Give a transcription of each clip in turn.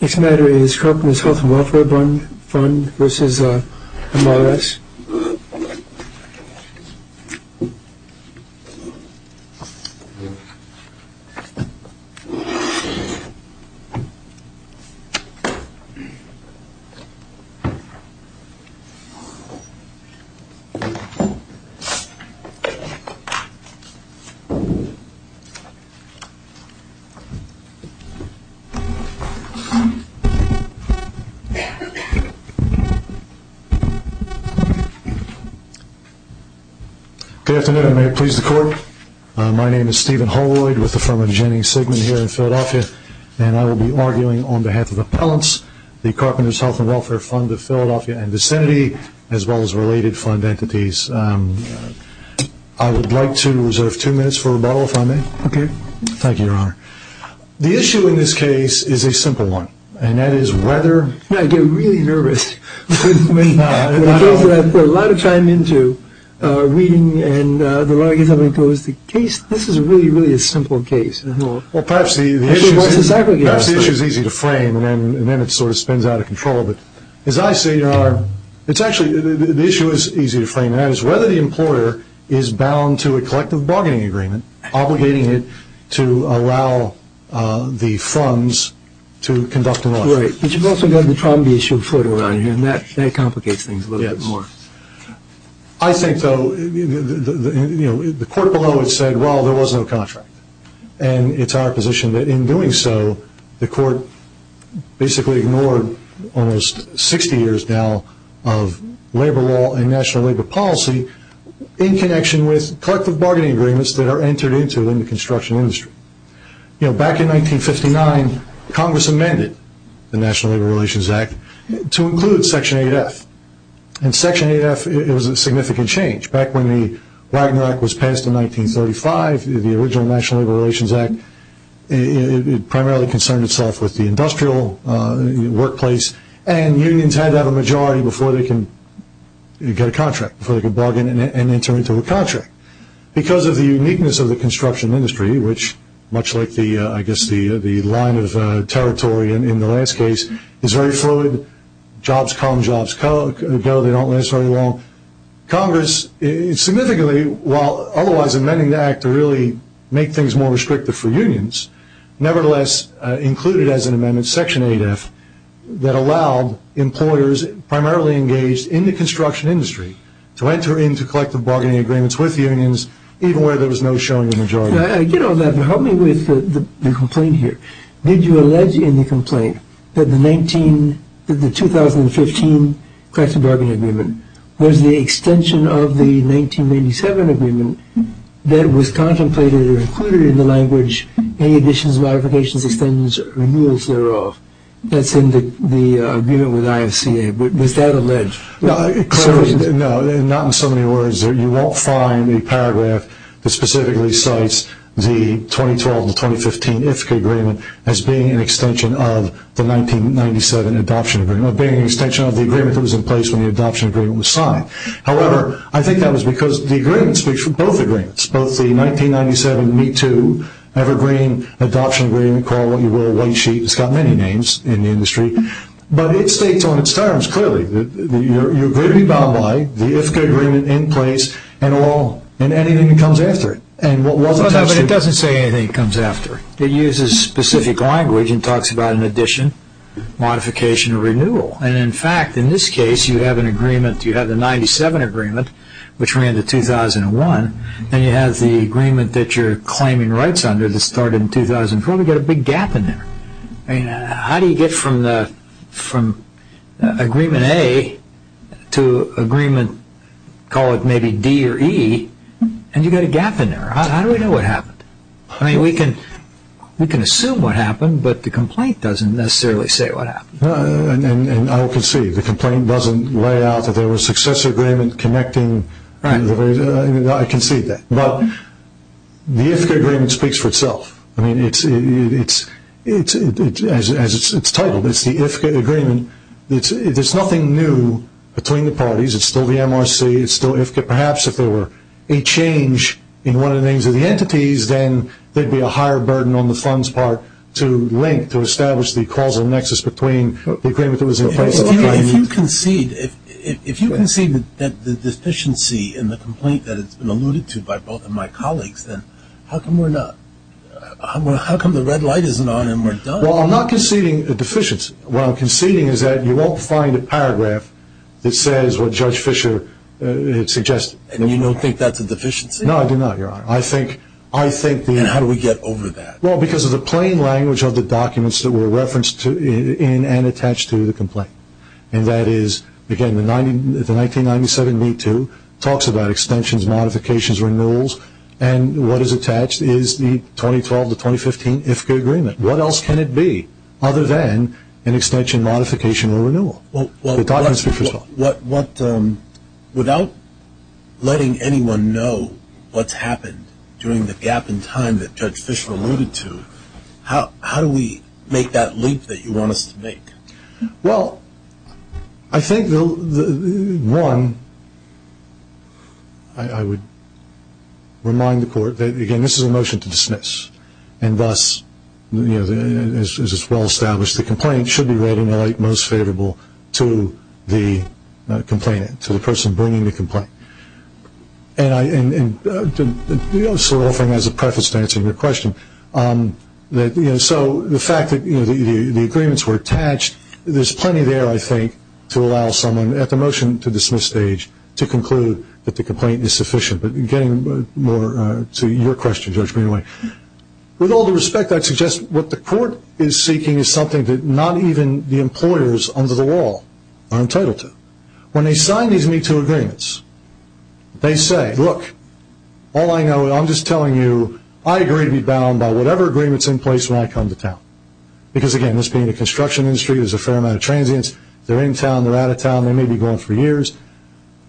Next matter is Carpenters Health&Welfare Fund v. MRS. Holloyd. I would like to reserve two minutes for rebuttal, if I may. Thank you, Your Honor. The issue in this case is a simple one, and that is whether... I get really nervous when it comes to that. I put a lot of time into reading, and the lawyer gets up and goes, this is really, really a simple case. Well, perhaps the issue is easy to frame, and then it sort of spins out of control. But as I say, Your Honor, the issue is easy to frame, and that is whether the employer is bound to a collective bargaining agreement obligating it to allow the funds to conduct an audit. Right. But you've also got the trauma-issued foot around here, and that complicates things a little bit more. I think, though, the court below has said, well, there was no contract, and it's our position that in doing so, the court basically ignored almost 60 years now of labor law and national labor policy in connection with collective bargaining agreements that are entered into in the construction industry. Back in 1959, Congress amended the National Labor Relations Act to include Section 8F. In Section 8F, it was a significant change. Back when the Wagner Act was passed in 1935, the original National Labor Relations Act, it primarily concerned itself with the industrial workplace, and unions had to have a majority before they could get a contract, before they could bargain and enter into a contract. Because of the uniqueness of the construction industry, which much like the line of territory in the last case, is very fluid. Jobs come, jobs go. They don't last very long. Congress significantly, while otherwise amending the Act to really make things more restrictive for unions, nevertheless included as an amendment Section 8F that allowed employers primarily engaged in the construction industry to enter into collective bargaining agreements with unions, even where there was no showing of a majority. You know, help me with the complaint here. Did you allege in the complaint that the 2015 collective bargaining agreement was the extension of the 1997 agreement that was contemplated or included in the language any additions, modifications, extensions, or renewals thereof? That's in the agreement with IFCA. Was that alleged? No, not in so many words. You won't find a paragraph that specifically cites the 2012-2015 IFCA agreement as being an extension of the 1997 adoption agreement or being an extension of the agreement that was in place when the adoption agreement was signed. However, I think that was because the agreement speaks for both agreements, both the 1997 ME2 evergreen adoption agreement called what you will a white sheet. It's got many names in the industry. But it states on its terms clearly that you agree to be bound by the IFCA agreement in place and anything that comes after it. But it doesn't say anything that comes after it. It uses specific language and talks about an addition, modification, or renewal. And in fact, in this case, you have an agreement. You have the 1997 agreement, which ran to 2001, and you have the agreement that you're claiming rights under that started in 2004. We've got a big gap in there. I mean, how do you get from agreement A to agreement, call it maybe D or E, and you've got a gap in there? How do we know what happened? I mean, we can assume what happened, but the complaint doesn't necessarily say what happened. And I can see the complaint doesn't lay out that there was success agreement connecting. I can see that. But the IFCA agreement speaks for itself. I mean, as it's titled, it's the IFCA agreement. There's nothing new between the parties. It's still the MRC. It's still IFCA. Perhaps if there were a change in one of the names of the entities, then there would be a higher burden on the funds part to link, to establish the causal nexus between the agreement that was in place. If you concede that the deficiency in the complaint that has been alluded to by both of my colleagues, then how come the red light isn't on and we're done? Well, I'm not conceding a deficiency. What I'm conceding is that you won't find a paragraph that says what Judge Fischer had suggested. And you don't think that's a deficiency? No, I do not, Your Honor. And how do we get over that? Well, because of the plain language of the documents that were referenced in and attached to the complaint. And that is, again, the 1997 B-2 talks about extensions, modifications, renewals, and what is attached is the 2012 to 2015 IFCA agreement. What else can it be other than an extension, modification, or renewal? Without letting anyone know what's happened during the gap in time that Judge Fischer alluded to, how do we make that leap that you want us to make? Well, I think, one, I would remind the Court that, again, this is a motion to dismiss. And thus, as is well established, the complaint should be read in the light most favorable to the complainant, to the person bringing the complaint. And I'm sort of offering that as a preface to answering your question. So the fact that the agreements were attached, there's plenty there, I think, to allow someone at the motion to dismiss stage to conclude that the complaint is sufficient. But getting more to your question, Judge Greenway, with all due respect, I'd suggest what the Court is seeking is something that not even the employers under the law are entitled to. When they sign these Me Too agreements, they say, look, all I know, I'm just telling you I agree to be bound by whatever agreement is in place when I come to town. Because, again, this being a construction industry, there's a fair amount of transients. They're in town, they're out of town, they may be gone for years.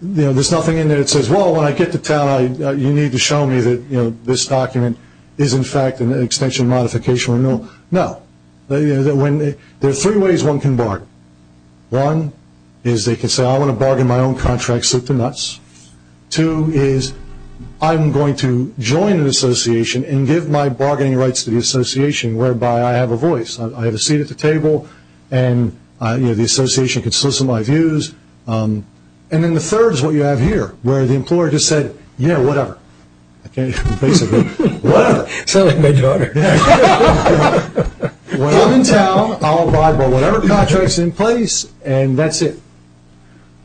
There's nothing in there that says, well, when I get to town, you need to show me that this document is, in fact, an extension, modification, or renewal. No. There are three ways one can bargain. One is they can say, I want to bargain my own contracts with the nuts. Two is I'm going to join an association and give my bargaining rights to the association, whereby I have a voice, I have a seat at the table, and the association can solicit my views. And then the third is what you have here, where the employer just said, yeah, whatever. Basically, whatever. Sounded like my daughter. When I'm in town, I'll abide by whatever contract is in place, and that's it.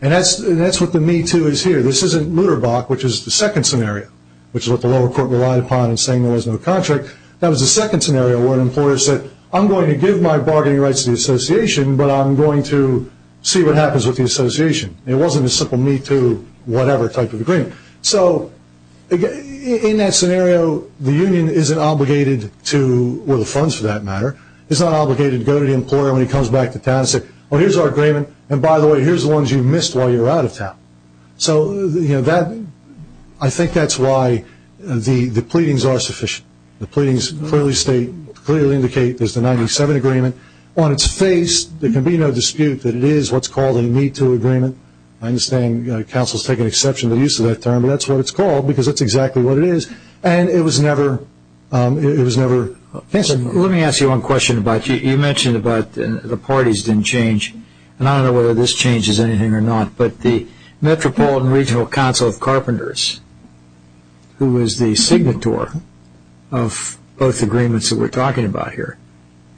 And that's what the me too is here. This isn't Lutterbach, which is the second scenario, which is what the lower court relied upon in saying there was no contract. That was the second scenario where an employer said, I'm going to give my bargaining rights to the association, but I'm going to see what happens with the association. It wasn't a simple me too whatever type of agreement. So in that scenario, the union isn't obligated to, well, the funds for that matter, it's not obligated to go to the employer when he comes back to town and say, well, here's our agreement, and by the way, here's the ones you missed while you were out of town. So I think that's why the pleadings are sufficient. The pleadings clearly state, clearly indicate there's the 97 agreement. On its face, there can be no dispute that it is what's called a me too agreement. I understand councils take an exception to the use of that term, but that's what it's called because that's exactly what it is. And it was never – it was never – Let me ask you one question about – you mentioned about the parties didn't change, and I don't know whether this changes anything or not, but the Metropolitan Regional Council of Carpenters, who was the signator of both agreements that we're talking about here,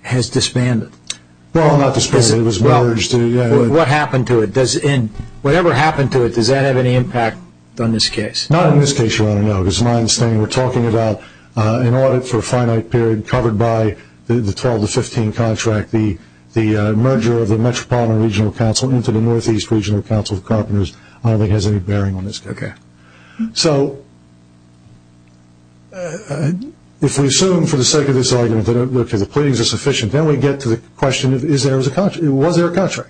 has disbanded. Well, not disbanded, it was merged. What happened to it? Whatever happened to it, does that have any impact on this case? Not in this case, Your Honor, no, because in my understanding, we're talking about an audit for a finite period covered by the 12 to 15 contract. The merger of the Metropolitan Regional Council into the Northeast Regional Council of Carpenters I don't think has any bearing on this case. Okay. So if we assume for the sake of this argument that the pleadings are sufficient, then we get to the question of was there a contract.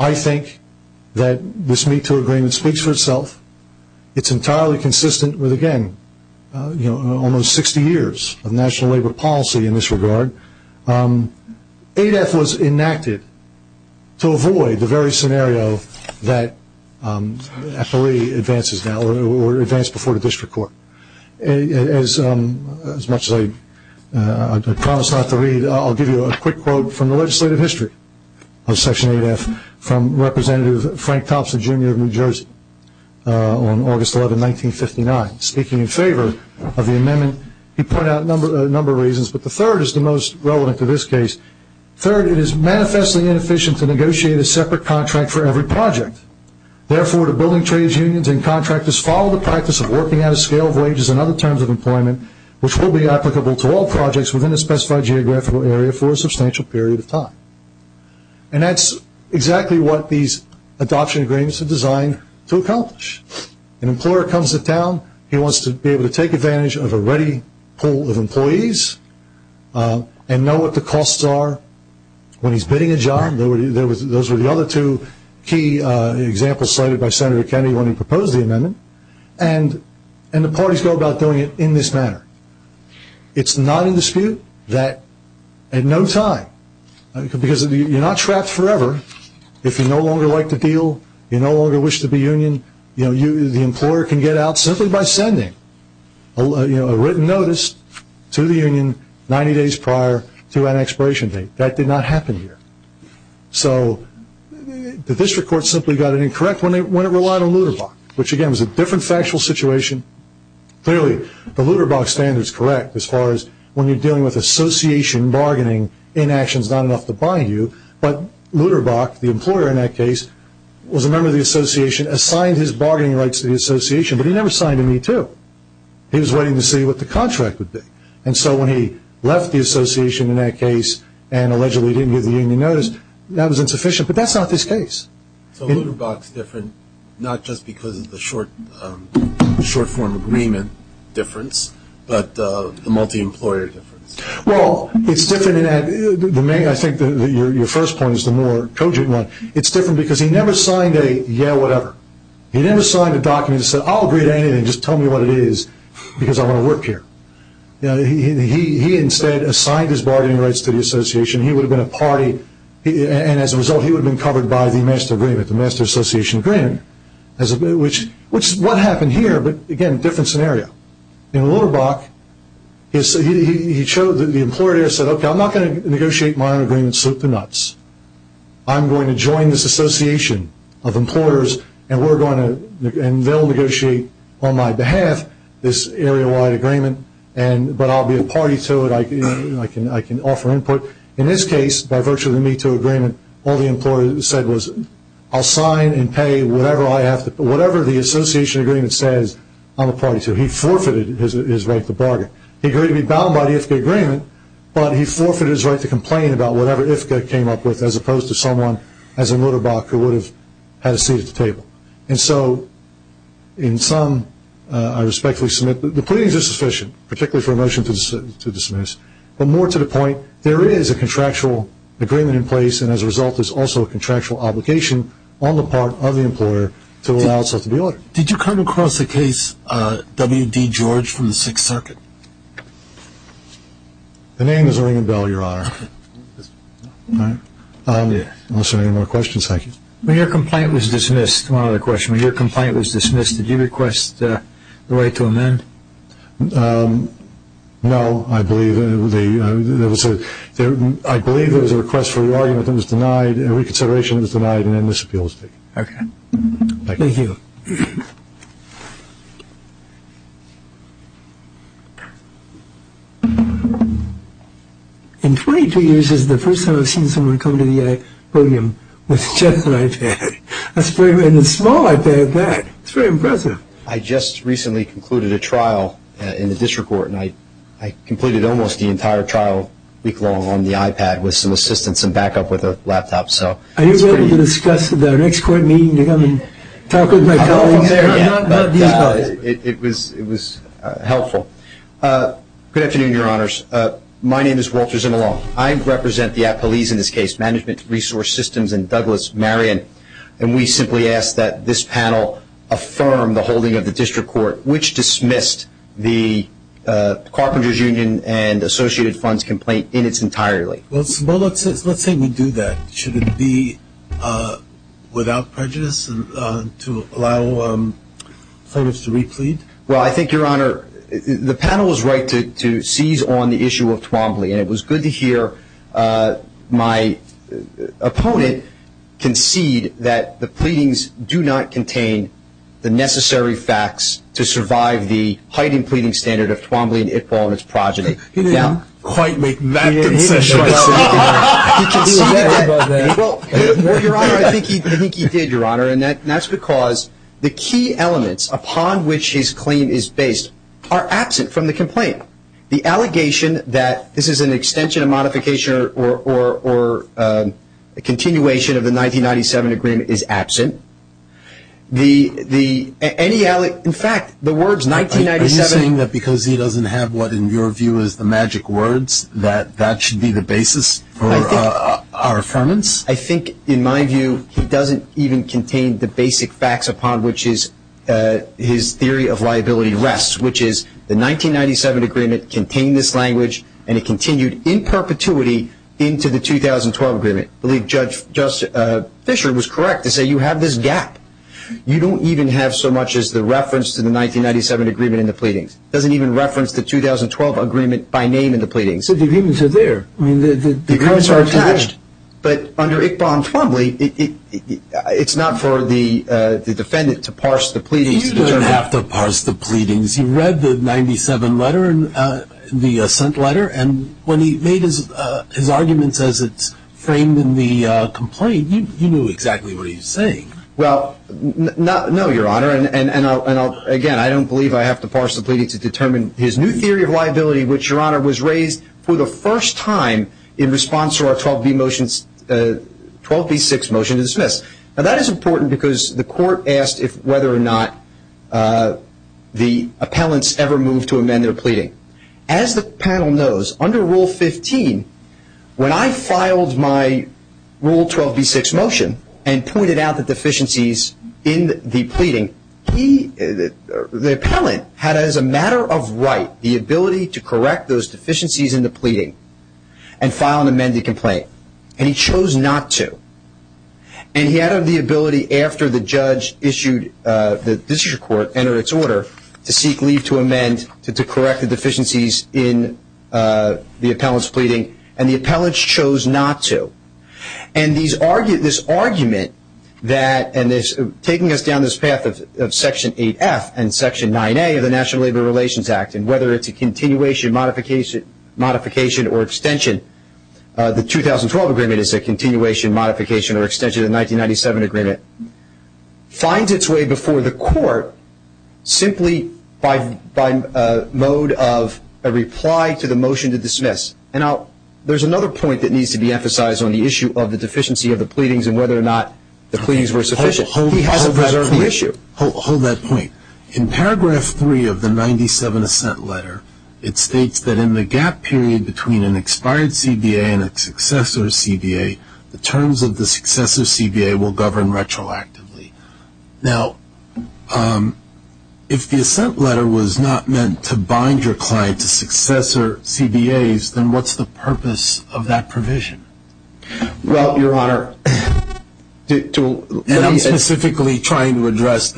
I think that this MeToo agreement speaks for itself. It's entirely consistent with, again, almost 60 years of national labor policy in this regard. ADEF was enacted to avoid the very scenario that actually advances now or advanced before the district court. As much as I promise not to read, I'll give you a quick quote from the legislative history of Section ADEF from Representative Frank Thompson, Jr. of New Jersey on August 11, 1959. Speaking in favor of the amendment, he pointed out a number of reasons, but the third is the most relevant to this case. Third, it is manifestly inefficient to negotiate a separate contract for every project. Therefore, the building trade unions and contractors follow the practice of working at a scale of wages and other terms of employment which will be applicable to all projects within a specified geographical area for a substantial period of time. And that's exactly what these adoption agreements are designed to accomplish. An employer comes to town. He wants to be able to take advantage of a ready pool of employees and know what the costs are when he's bidding a job. Those were the other two key examples cited by Senator Kennedy when he proposed the amendment. And the parties go about doing it in this manner. It's not in dispute that at no time, because you're not trapped forever, if you no longer like the deal, you no longer wish to be union, the employer can get out simply by sending a written notice to the union 90 days prior to an expiration date. That did not happen here. So the district court simply got it incorrect when it relied on Lutterbach, which again was a different factual situation. Clearly, the Lutterbach standard is correct as far as when you're dealing with association bargaining, inaction is not enough to bind you. But Lutterbach, the employer in that case, was a member of the association, assigned his bargaining rights to the association, but he never signed to me too. He was waiting to see what the contract would be. And so when he left the association in that case and allegedly didn't give the union notice, that was insufficient. But that's not this case. So Lutterbach's different not just because of the short-form agreement difference, but the multi-employer difference. Well, it's different in that I think your first point is the more cogent one. It's different because he never signed a yeah, whatever. He never signed a document that said I'll agree to anything, just tell me what it is, because I want to work here. He instead assigned his bargaining rights to the association. He would have been a party. And as a result, he would have been covered by the master agreement, the master association agreement, which is what happened here, but again, different scenario. In Lutterbach, he showed that the employer there said, okay, I'm not going to negotiate my own agreement and slip the nuts. I'm going to join this association of employers, and they'll negotiate on my behalf this area-wide agreement, but I'll be a party to it. I can offer input. In this case, by virtue of the METO agreement, all the employer said was I'll sign and pay whatever the association agreement says I'm a party to. He forfeited his right to bargain. He agreed to be bound by the IFCA agreement, but he forfeited his right to complain about whatever IFCA came up with, as opposed to someone as in Lutterbach who would have had a seat at the table. And so in sum, I respectfully submit that the pleadings are sufficient, particularly for a motion to dismiss, but more to the point, there is a contractual agreement in place, and as a result, there's also a contractual obligation on the part of the employer to allow itself to be ordered. Did you come across the case W.D. George from the Sixth Circuit? The name is ringing a bell, Your Honor. Unless there are any more questions, thank you. When your complaint was dismissed, one other question, when your complaint was dismissed, did you request the right to amend? No. I believe there was a request for re-argument that was denied, and reconsideration was denied, and then this appeal was taken. Okay. Thank you. Thank you. In 22 years, this is the first time I've seen someone come to the podium with just an iPad, and a small iPad back. It's very impressive. I just recently concluded a trial in the district court, and I completed almost the entire trial week-long on the iPad with some assistance and backup with a laptop. Are you willing to discuss the next court meeting to come and talk with my colleagues? It was helpful. Good afternoon, Your Honors. My name is Walter Zimelon. I represent the police in this case, Management Resource Systems, and Douglas Marion, and we simply ask that this panel affirm the holding of the district court, which dismissed the Carpenters Union and Associated Funds complaint in its entirety. Well, Zimelon, let's say we do that. Should it be without prejudice to allow plaintiffs to re-plead? Well, I think, Your Honor, the panel was right to seize on the issue of Twombly, and it was good to hear my opponent concede that the pleadings do not contain the necessary facts to survive the heightened pleading standard of Twombly and Ithbal and its progeny. He didn't quite make that concession. Well, Your Honor, I think he did, Your Honor, and that's because the key elements upon which his claim is based are absent from the complaint. The allegation that this is an extension, a modification, or a continuation of the 1997 agreement is absent. In fact, the words 1997- Are you saying that because he doesn't have what, in your view, is the magic words, that that should be the basis for our affirmance? I think, in my view, he doesn't even contain the basic facts upon which his theory of liability rests, which is the 1997 agreement contained this language, and it continued in perpetuity into the 2012 agreement. I believe Judge Fisher was correct to say you have this gap. You don't even have so much as the reference to the 1997 agreement in the pleadings. It doesn't even reference the 2012 agreement by name in the pleadings. But the agreements are there. The agreements are attached, but under Ithbal and Twombly, it's not for the defendant to parse the pleadings. He doesn't have to parse the pleadings. He read the 97 letter, the assent letter, and when he made his arguments as it's framed in the complaint, you knew exactly what he was saying. Well, no, Your Honor, and, again, I don't believe I have to parse the pleading to determine his new theory of liability, which, Your Honor, was raised for the first time in response to our 12b6 motion to dismiss. Now, that is important because the court asked whether or not the appellants ever moved to amend their pleading. As the panel knows, under Rule 15, when I filed my Rule 12b6 motion and pointed out the deficiencies in the pleading, the appellant had as a matter of right the ability to correct those deficiencies in the pleading and file an amended complaint, and he chose not to. And he had the ability after the judge issued, the district court entered its order to seek leave to amend, to correct the deficiencies in the appellant's pleading, and the appellant chose not to. And this argument that, and taking us down this path of Section 8F and Section 9A of the National Labor Relations Act, and whether it's a continuation, modification, or extension, the 2012 agreement is a continuation, modification, or extension of the 1997 agreement, finds its way before the court simply by mode of a reply to the motion to dismiss. And there's another point that needs to be emphasized on the issue of the deficiency of the pleadings and whether or not the pleadings were sufficient. He hasn't preserved the issue. Hold that point. In paragraph 3 of the 97 assent letter, it states that in the gap period between an expired CBA and a successor CBA, the terms of the successor CBA will govern retroactively. Now, if the assent letter was not meant to bind your client to successor CBAs, then what's the purpose of that provision? Well, Your Honor, to... And I'm specifically trying to address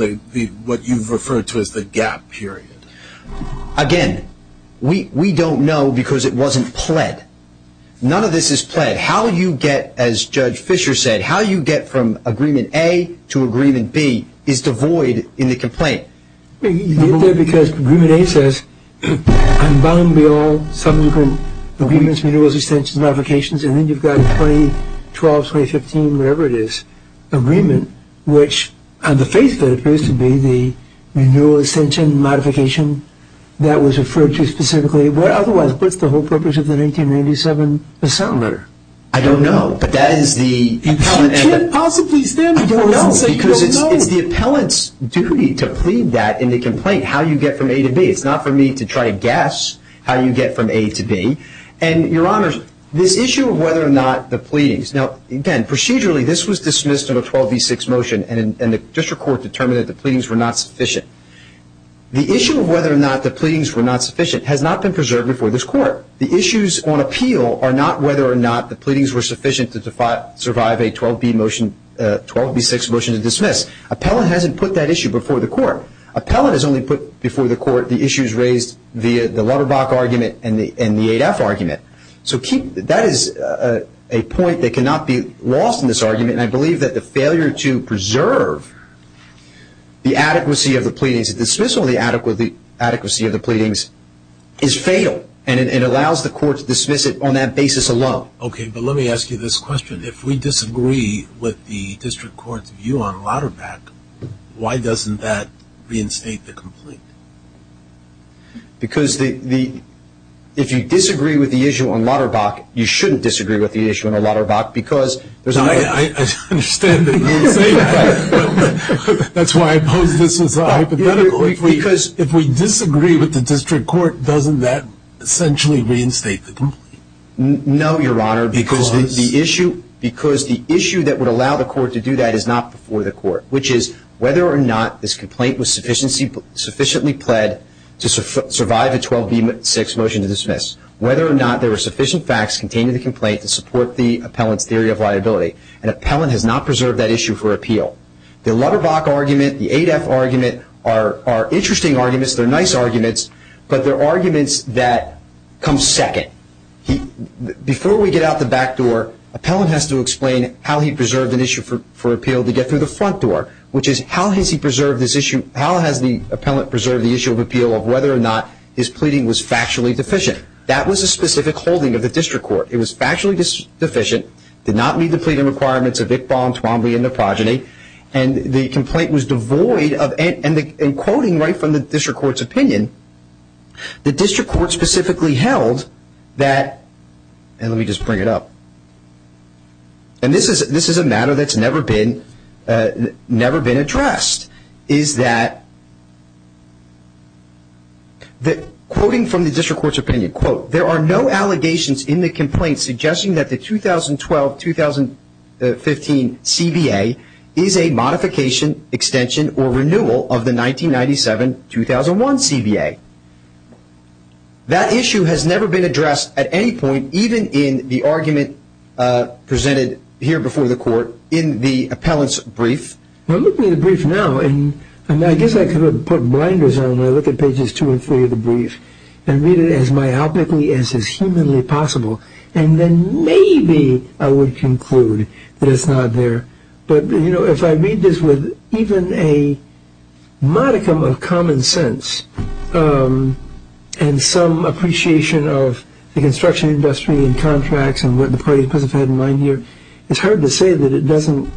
what you've referred to as the gap period. Again, we don't know because it wasn't pled. None of this is pled. How you get, as Judge Fischer said, how you get from Agreement A to Agreement B is devoid in the complaint. You get there because Agreement A says, I'm bound beyond subsequent agreements, renewals, extensions, modifications, and then you've got 2012, 2015, whatever it is, agreement, which on the face of it appears to be the renewal, extension, modification that was referred to specifically. But otherwise, what's the whole purpose of the 1997 assent letter? I don't know, but that is the... You can't possibly stand before us and say you don't know. It's the appellant's duty to plead that in the complaint, how you get from A to B. It's not for me to try to guess how you get from A to B. And, Your Honor, this issue of whether or not the pleadings... Now, again, procedurally, this was dismissed in a 12b6 motion, and the district court determined that the pleadings were not sufficient. The issue of whether or not the pleadings were not sufficient has not been preserved before this court. The issues on appeal are not whether or not the pleadings were sufficient to survive a 12b6 motion to dismiss. Appellant hasn't put that issue before the court. Appellant has only put before the court the issues raised via the Lutterbach argument and the 8f argument. So that is a point that cannot be lost in this argument, and I believe that the failure to preserve the adequacy of the pleadings, is fatal, and it allows the court to dismiss it on that basis alone. Okay, but let me ask you this question. If we disagree with the district court's view on Lutterbach, why doesn't that reinstate the complaint? Because if you disagree with the issue on Lutterbach, you shouldn't disagree with the issue on Lutterbach because... I understand that you're saying that, but that's why I pose this as a hypothetical. Because if we disagree with the district court, doesn't that essentially reinstate the complaint? No, Your Honor, because the issue that would allow the court to do that is not before the court, which is whether or not this complaint was sufficiently pled to survive a 12b6 motion to dismiss, whether or not there were sufficient facts contained in the complaint to support the appellant's theory of liability. And appellant has not preserved that issue for appeal. The Lutterbach argument, the 8f argument are interesting arguments. They're nice arguments, but they're arguments that come second. Before we get out the back door, appellant has to explain how he preserved an issue for appeal to get through the front door, which is how has he preserved this issue, how has the appellant preserved the issue of appeal of whether or not his pleading was factually deficient. That was a specific holding of the district court. It was factually deficient, did not meet the pleading requirements of Iqbal, and the complaint was devoid of, and quoting right from the district court's opinion, the district court specifically held that, and let me just bring it up, and this is a matter that's never been addressed, is that quoting from the district court's opinion, there are no allegations in the complaint suggesting that the 2012-2015 CBA is a modification, extension, or renewal of the 1997-2001 CBA. That issue has never been addressed at any point, even in the argument presented here before the court in the appellant's brief. Well, look at the brief now, and I guess I could put blinders on when I look at pages 2 and 3 of the brief and read it as myopically as is humanly possible, and then maybe I would conclude that it's not there, but if I read this with even a modicum of common sense and some appreciation of the construction industry and contracts and what the parties must have had in mind here, it's hard to say that it doesn't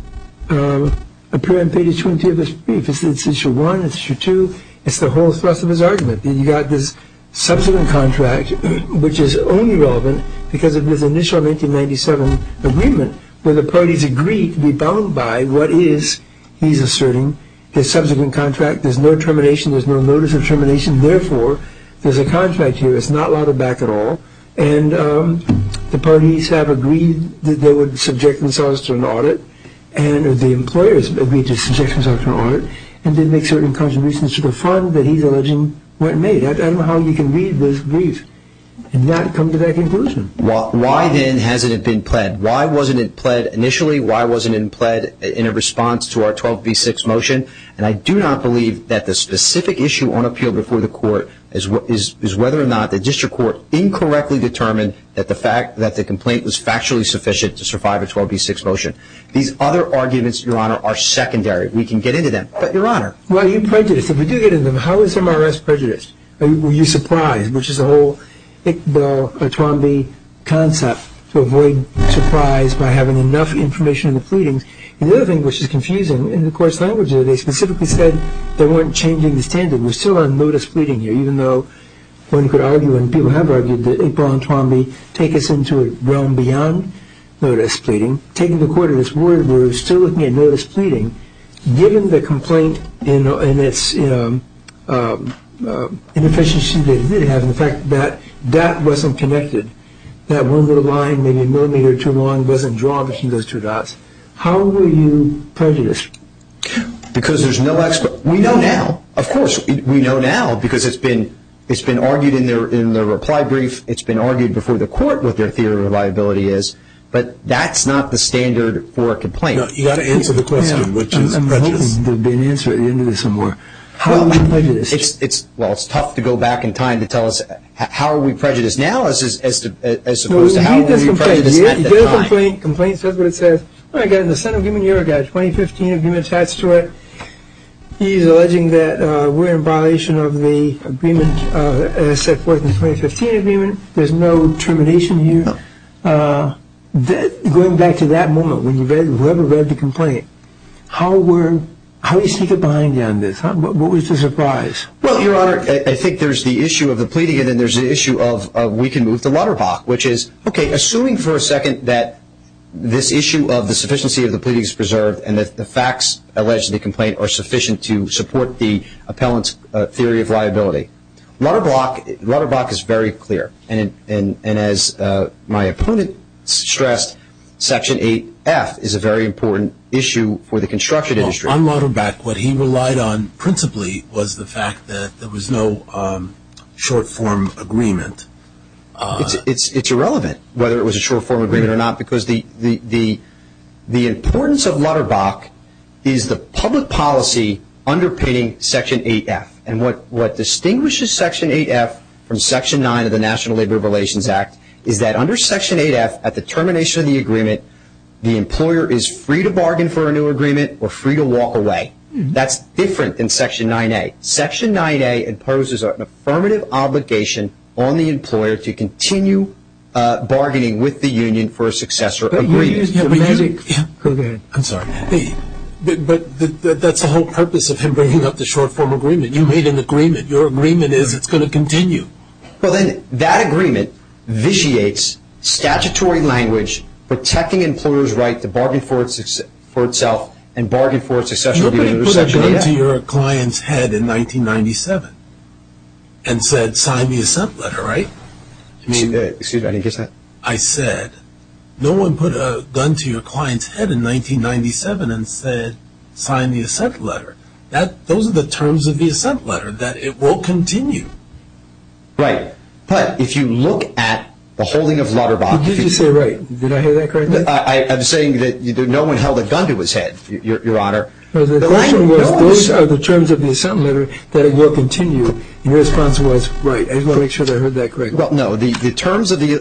appear in pages 2 and 3 of this brief. It's issue one, it's issue two, it's the whole thrust of his argument. You've got this subsequent contract, which is only relevant because of this initial 1997 agreement where the parties agreed to be bound by what he's asserting, the subsequent contract, there's no termination, there's no notice of termination, therefore there's a contract here, it's not lauded back at all, and the parties have agreed that they would subject themselves to an audit, and the employers agreed to subject themselves to an audit, and then make certain contributions to the fund that he's alleging were made. I don't know how you can read this brief and not come to that conclusion. Why then hasn't it been pled? Why wasn't it pled initially? Why wasn't it pled in a response to our 12b6 motion? And I do not believe that the specific issue on appeal before the court is whether or not the district court incorrectly determined that the complaint was factually sufficient to survive a 12b6 motion. These other arguments, Your Honor, are secondary. We can get into them. But, Your Honor, why are you prejudiced? If we do get into them, how is MRS prejudiced? Were you surprised, which is the whole Iqbal or Twombly concept, to avoid surprise by having enough information in the pleadings? The other thing which is confusing, in the court's language, they specifically said they weren't changing the standard. We're still on notice pleading here, even though one could argue, and people have argued, that Iqbal and Twombly take us into a realm beyond notice pleading. Taking the court at its word, we're still looking at notice pleading. Given the complaint and its inefficiency to have the fact that that wasn't connected, that one little line, maybe a millimeter too long, wasn't drawn between those two dots, how were you prejudiced? Because there's no expert. We know now. Of course, we know now because it's been argued in the reply brief. It's been argued before the court what their theory of reliability is. But that's not the standard for a complaint. You've got to answer the question, which is prejudice. I'm hoping there will be an answer at the end of this, or more. How are we prejudiced? Well, it's tough to go back in time to tell us how are we prejudiced now, as opposed to how are we prejudiced at that time. He did a complaint. He did a complaint. The complaint says what it says. I got it in the Senate Agreement. I got a 2015 agreement attached to it. He's alleging that we're in violation of the agreement set forth in the 2015 agreement. There's no termination here. Going back to that moment when whoever read the complaint, how were you seated behind you on this? What was the surprise? Well, Your Honor, I think there's the issue of the pleading, and then there's the issue of we can move to Lutterbach, which is, okay, assuming for a second that this issue of the sufficiency of the pleading is preserved and that the facts alleged in the complaint are sufficient to support the appellant's theory of liability. Lutterbach is very clear, and as my opponent stressed, Section 8F is a very important issue for the construction industry. On Lutterbach, what he relied on principally was the fact that there was no short-form agreement. It's irrelevant whether it was a short-form agreement or not, because the importance of Lutterbach is the public policy underpinning Section 8F. And what distinguishes Section 8F from Section 9 of the National Labor Relations Act is that under Section 8F, at the termination of the agreement, the employer is free to bargain for a new agreement or free to walk away. That's different than Section 9A. Section 9A imposes an affirmative obligation on the employer to continue bargaining with the union for a successor agreement. I'm sorry, but that's the whole purpose of him bringing up the short-form agreement. You made an agreement. Your agreement is it's going to continue. Well, then that agreement vitiates statutory language, protecting employers' right to bargain for itself and bargain for a successor agreement under Section 8F. You put a gun to your client's head in 1997 and said, sign me a sump letter, right? Excuse me, I didn't get that. I said, no one put a gun to your client's head in 1997 and said, sign me a sump letter. Those are the terms of the sump letter, that it will continue. Right. But if you look at the holding of Lutterbach. Did you say right? Did I hear that correctly? I'm saying that no one held a gun to his head, Your Honor. The question was, those are the terms of the sump letter, that it will continue. And your response was, right. I just want to make sure that I heard that correctly. Well, no. The terms of the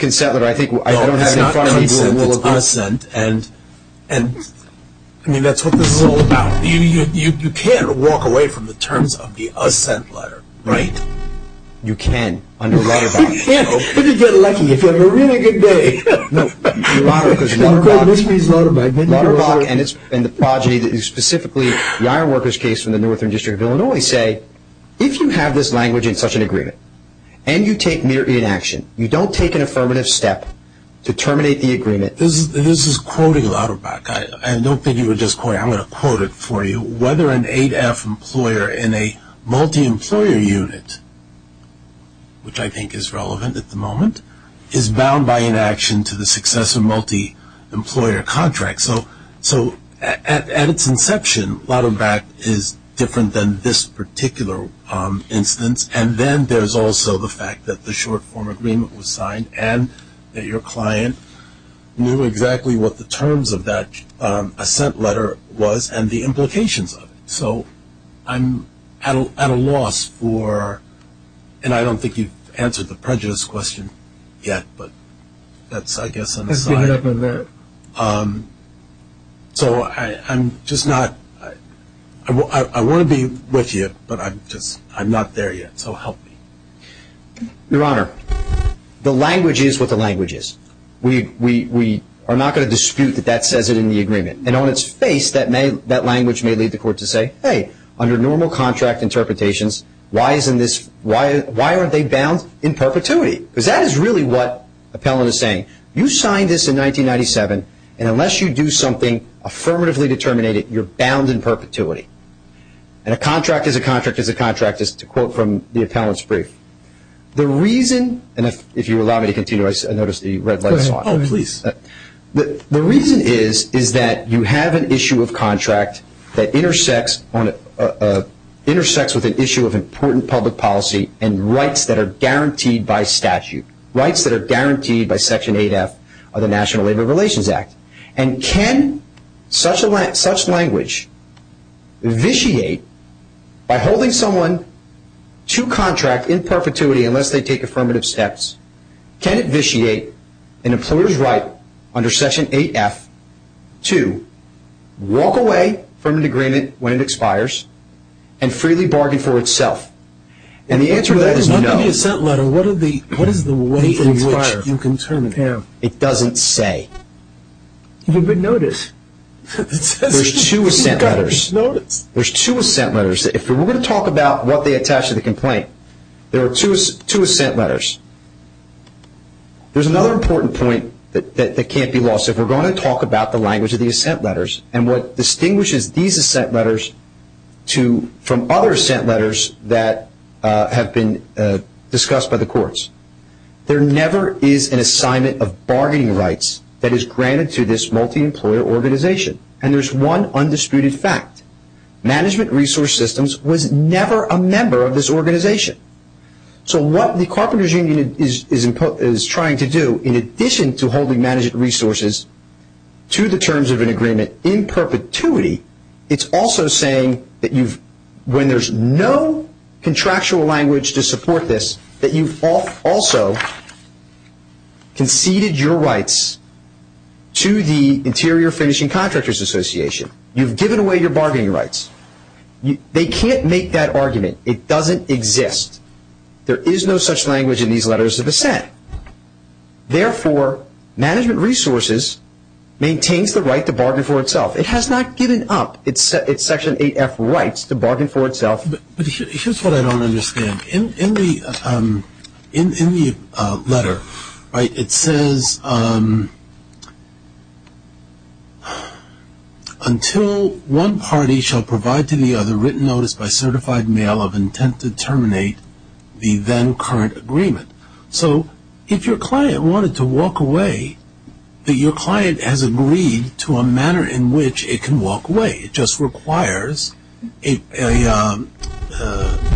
consent letter, I think, I don't have in front of me. It's not consent. It's assent. I mean, that's what this is all about. You can't walk away from the terms of the assent letter, right? You can under Lutterbach. You'd be lucky if you had a really good day. Lutterbach and the progeny, specifically the iron workers case in the Northern District of Illinois, if you have this language in such an agreement and you take mere inaction, you don't take an affirmative step to terminate the agreement. This is quoting Lutterbach. I don't think he was just quoting. I'm going to quote it for you. Whether an 8F employer in a multi-employer unit, which I think is relevant at the moment, is bound by inaction to the success of multi-employer contracts. So at its inception, Lutterbach is different than this particular instance, and then there's also the fact that the short form agreement was signed and that your client knew exactly what the terms of that assent letter was and the implications of it. So I'm at a loss for, and I don't think you've answered the prejudice question yet, but that's, I guess, an aside. So I'm just not, I want to be with you, but I'm not there yet, so help me. Your Honor, the language is what the language is. We are not going to dispute that that says it in the agreement. And on its face, that language may lead the court to say, hey, under normal contract interpretations, why aren't they bound in perpetuity? You signed this in 1997, and unless you do something affirmatively determinative, you're bound in perpetuity. And a contract is a contract is a contract is to quote from the appellant's brief. The reason, and if you allow me to continue, I notice the red light is on. Please. The reason is that you have an issue of contract that intersects with an issue of important public policy and rights that are guaranteed by statute, rights that are guaranteed by Section 8F of the National Labor Relations Act. And can such language vitiate by holding someone to contract in perpetuity unless they take affirmative steps? Can it vitiate an employer's right under Section 8F to walk away from an agreement when it expires and freely bargain for itself? And the answer to that is no. What is the way in which you can turn it down? It doesn't say. You've been noticed. There's two assent letters. There's two assent letters. If we're going to talk about what they attach to the complaint, there are two assent letters. There's another important point that can't be lost. If we're going to talk about the language of the assent letters and what distinguishes these assent letters from other assent letters that have been discussed by the courts, there never is an assignment of bargaining rights that is granted to this multi-employer organization. And there's one undisputed fact. Management Resource Systems was never a member of this organization. So what the Carpenters Union is trying to do, in addition to holding management resources to the terms of an agreement in perpetuity, it's also saying that when there's no contractual language to support this, that you've also conceded your rights to the Interior Finishing Contractors Association. You've given away your bargaining rights. They can't make that argument. It doesn't exist. There is no such language in these letters of assent. Therefore, Management Resources maintains the right to bargain for itself. It has not given up its Section 8F rights to bargain for itself. But here's what I don't understand. In the letter, it says, until one party shall provide to the other written notice by certified mail of intent to terminate the then current agreement. So if your client wanted to walk away, your client has agreed to a manner in which it can walk away. It just requires a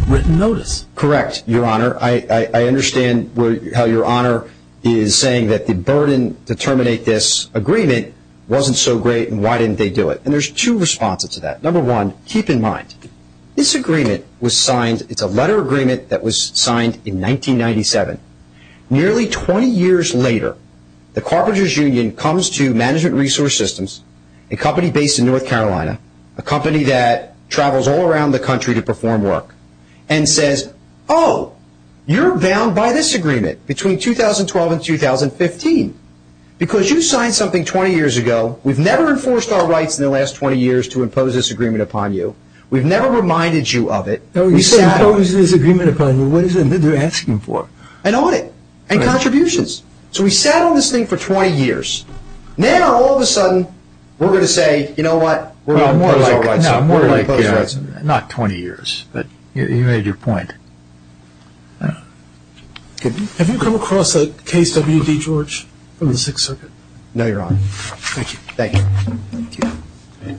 written notice. Correct, Your Honor. I understand how Your Honor is saying that the burden to terminate this agreement wasn't so great and why didn't they do it. And there's two responses to that. Number one, keep in mind, this agreement was signed. It's a letter agreement that was signed in 1997. Nearly 20 years later, the Carpenters' Union comes to Management Resource Systems, a company based in North Carolina, a company that travels all around the country to perform work, and says, oh, you're bound by this agreement between 2012 and 2015 because you signed something 20 years ago. We've never enforced our rights in the last 20 years to impose this agreement upon you. We've never reminded you of it. We say impose this agreement upon you. What is it that they're asking for? An audit and contributions. So we sat on this thing for 20 years. Now, all of a sudden, we're going to say, you know what, we're going to impose our rights on you. Not 20 years, but you made your point. Have you come across a case, W.D. George, from the Sixth Circuit? No, Your Honor. Thank you. Thank you. Thank you.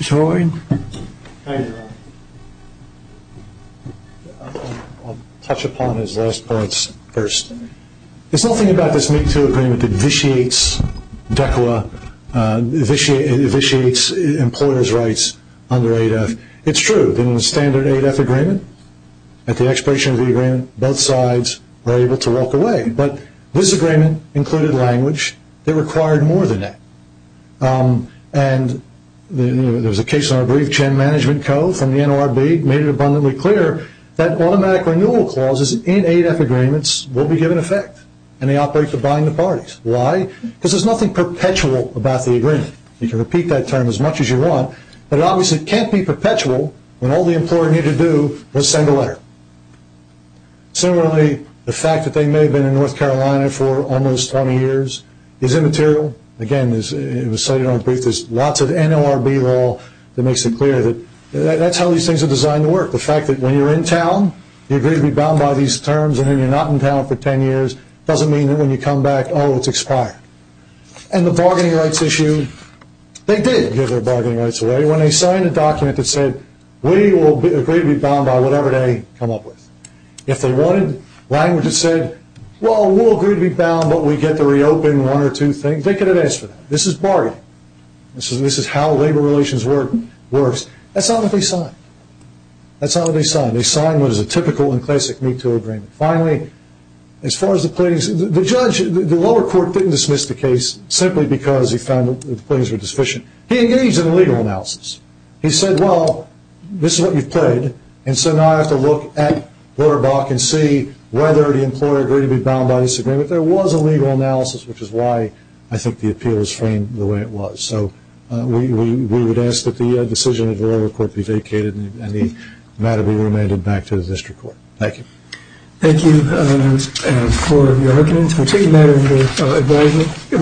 George. Hi, Your Honor. I'll touch upon his last parts first. There's nothing about this Me Too agreement that vitiates DECLA, vitiates employers' rights under ADEF. It's true that in the standard ADEF agreement, at the expiration of the agreement, both sides were able to walk away. But this agreement included language that required more than that. And there was a case in our brief, Chen Management Co., from the NLRB, made it abundantly clear that automatic renewal clauses in ADEF agreements will be given effect, and they operate to bind the parties. Why? Because there's nothing perpetual about the agreement. You can repeat that term as much as you want, but it obviously can't be perpetual when all the employer needed to do was send a letter. Similarly, the fact that they may have been in North Carolina for almost 20 years is immaterial. Again, it was cited in our brief. There's lots of NLRB law that makes it clear that that's how these things are designed to work. The fact that when you're in town, you agree to be bound by these terms, and then you're not in town for 10 years doesn't mean that when you come back, oh, it's expired. And the bargaining rights issue, they did give their bargaining rights away. When they signed a document that said, we will agree to be bound by whatever they come up with, if they wanted language that said, well, we'll agree to be bound, but we get to reopen one or two things, they could have asked for that. This is bargaining. This is how labor relations works. That's not what they signed. That's not what they signed. They signed what is a typical and classic MeToo agreement. Finally, as far as the pleadings, the judge, the lower court didn't dismiss the case simply because he found that the pleadings were deficient. He engaged in a legal analysis. He said, well, this is what you've pleaded, and so now I have to look at VoterBot and see whether the employer agreed to be bound by this agreement. There was a legal analysis, which is why I think the appeal is framed the way it was. So we would ask that the decision of the lower court be vacated and the matter be remanded back to the district court. Thank you. Thank you for your argument. We'll take a matter of your advising.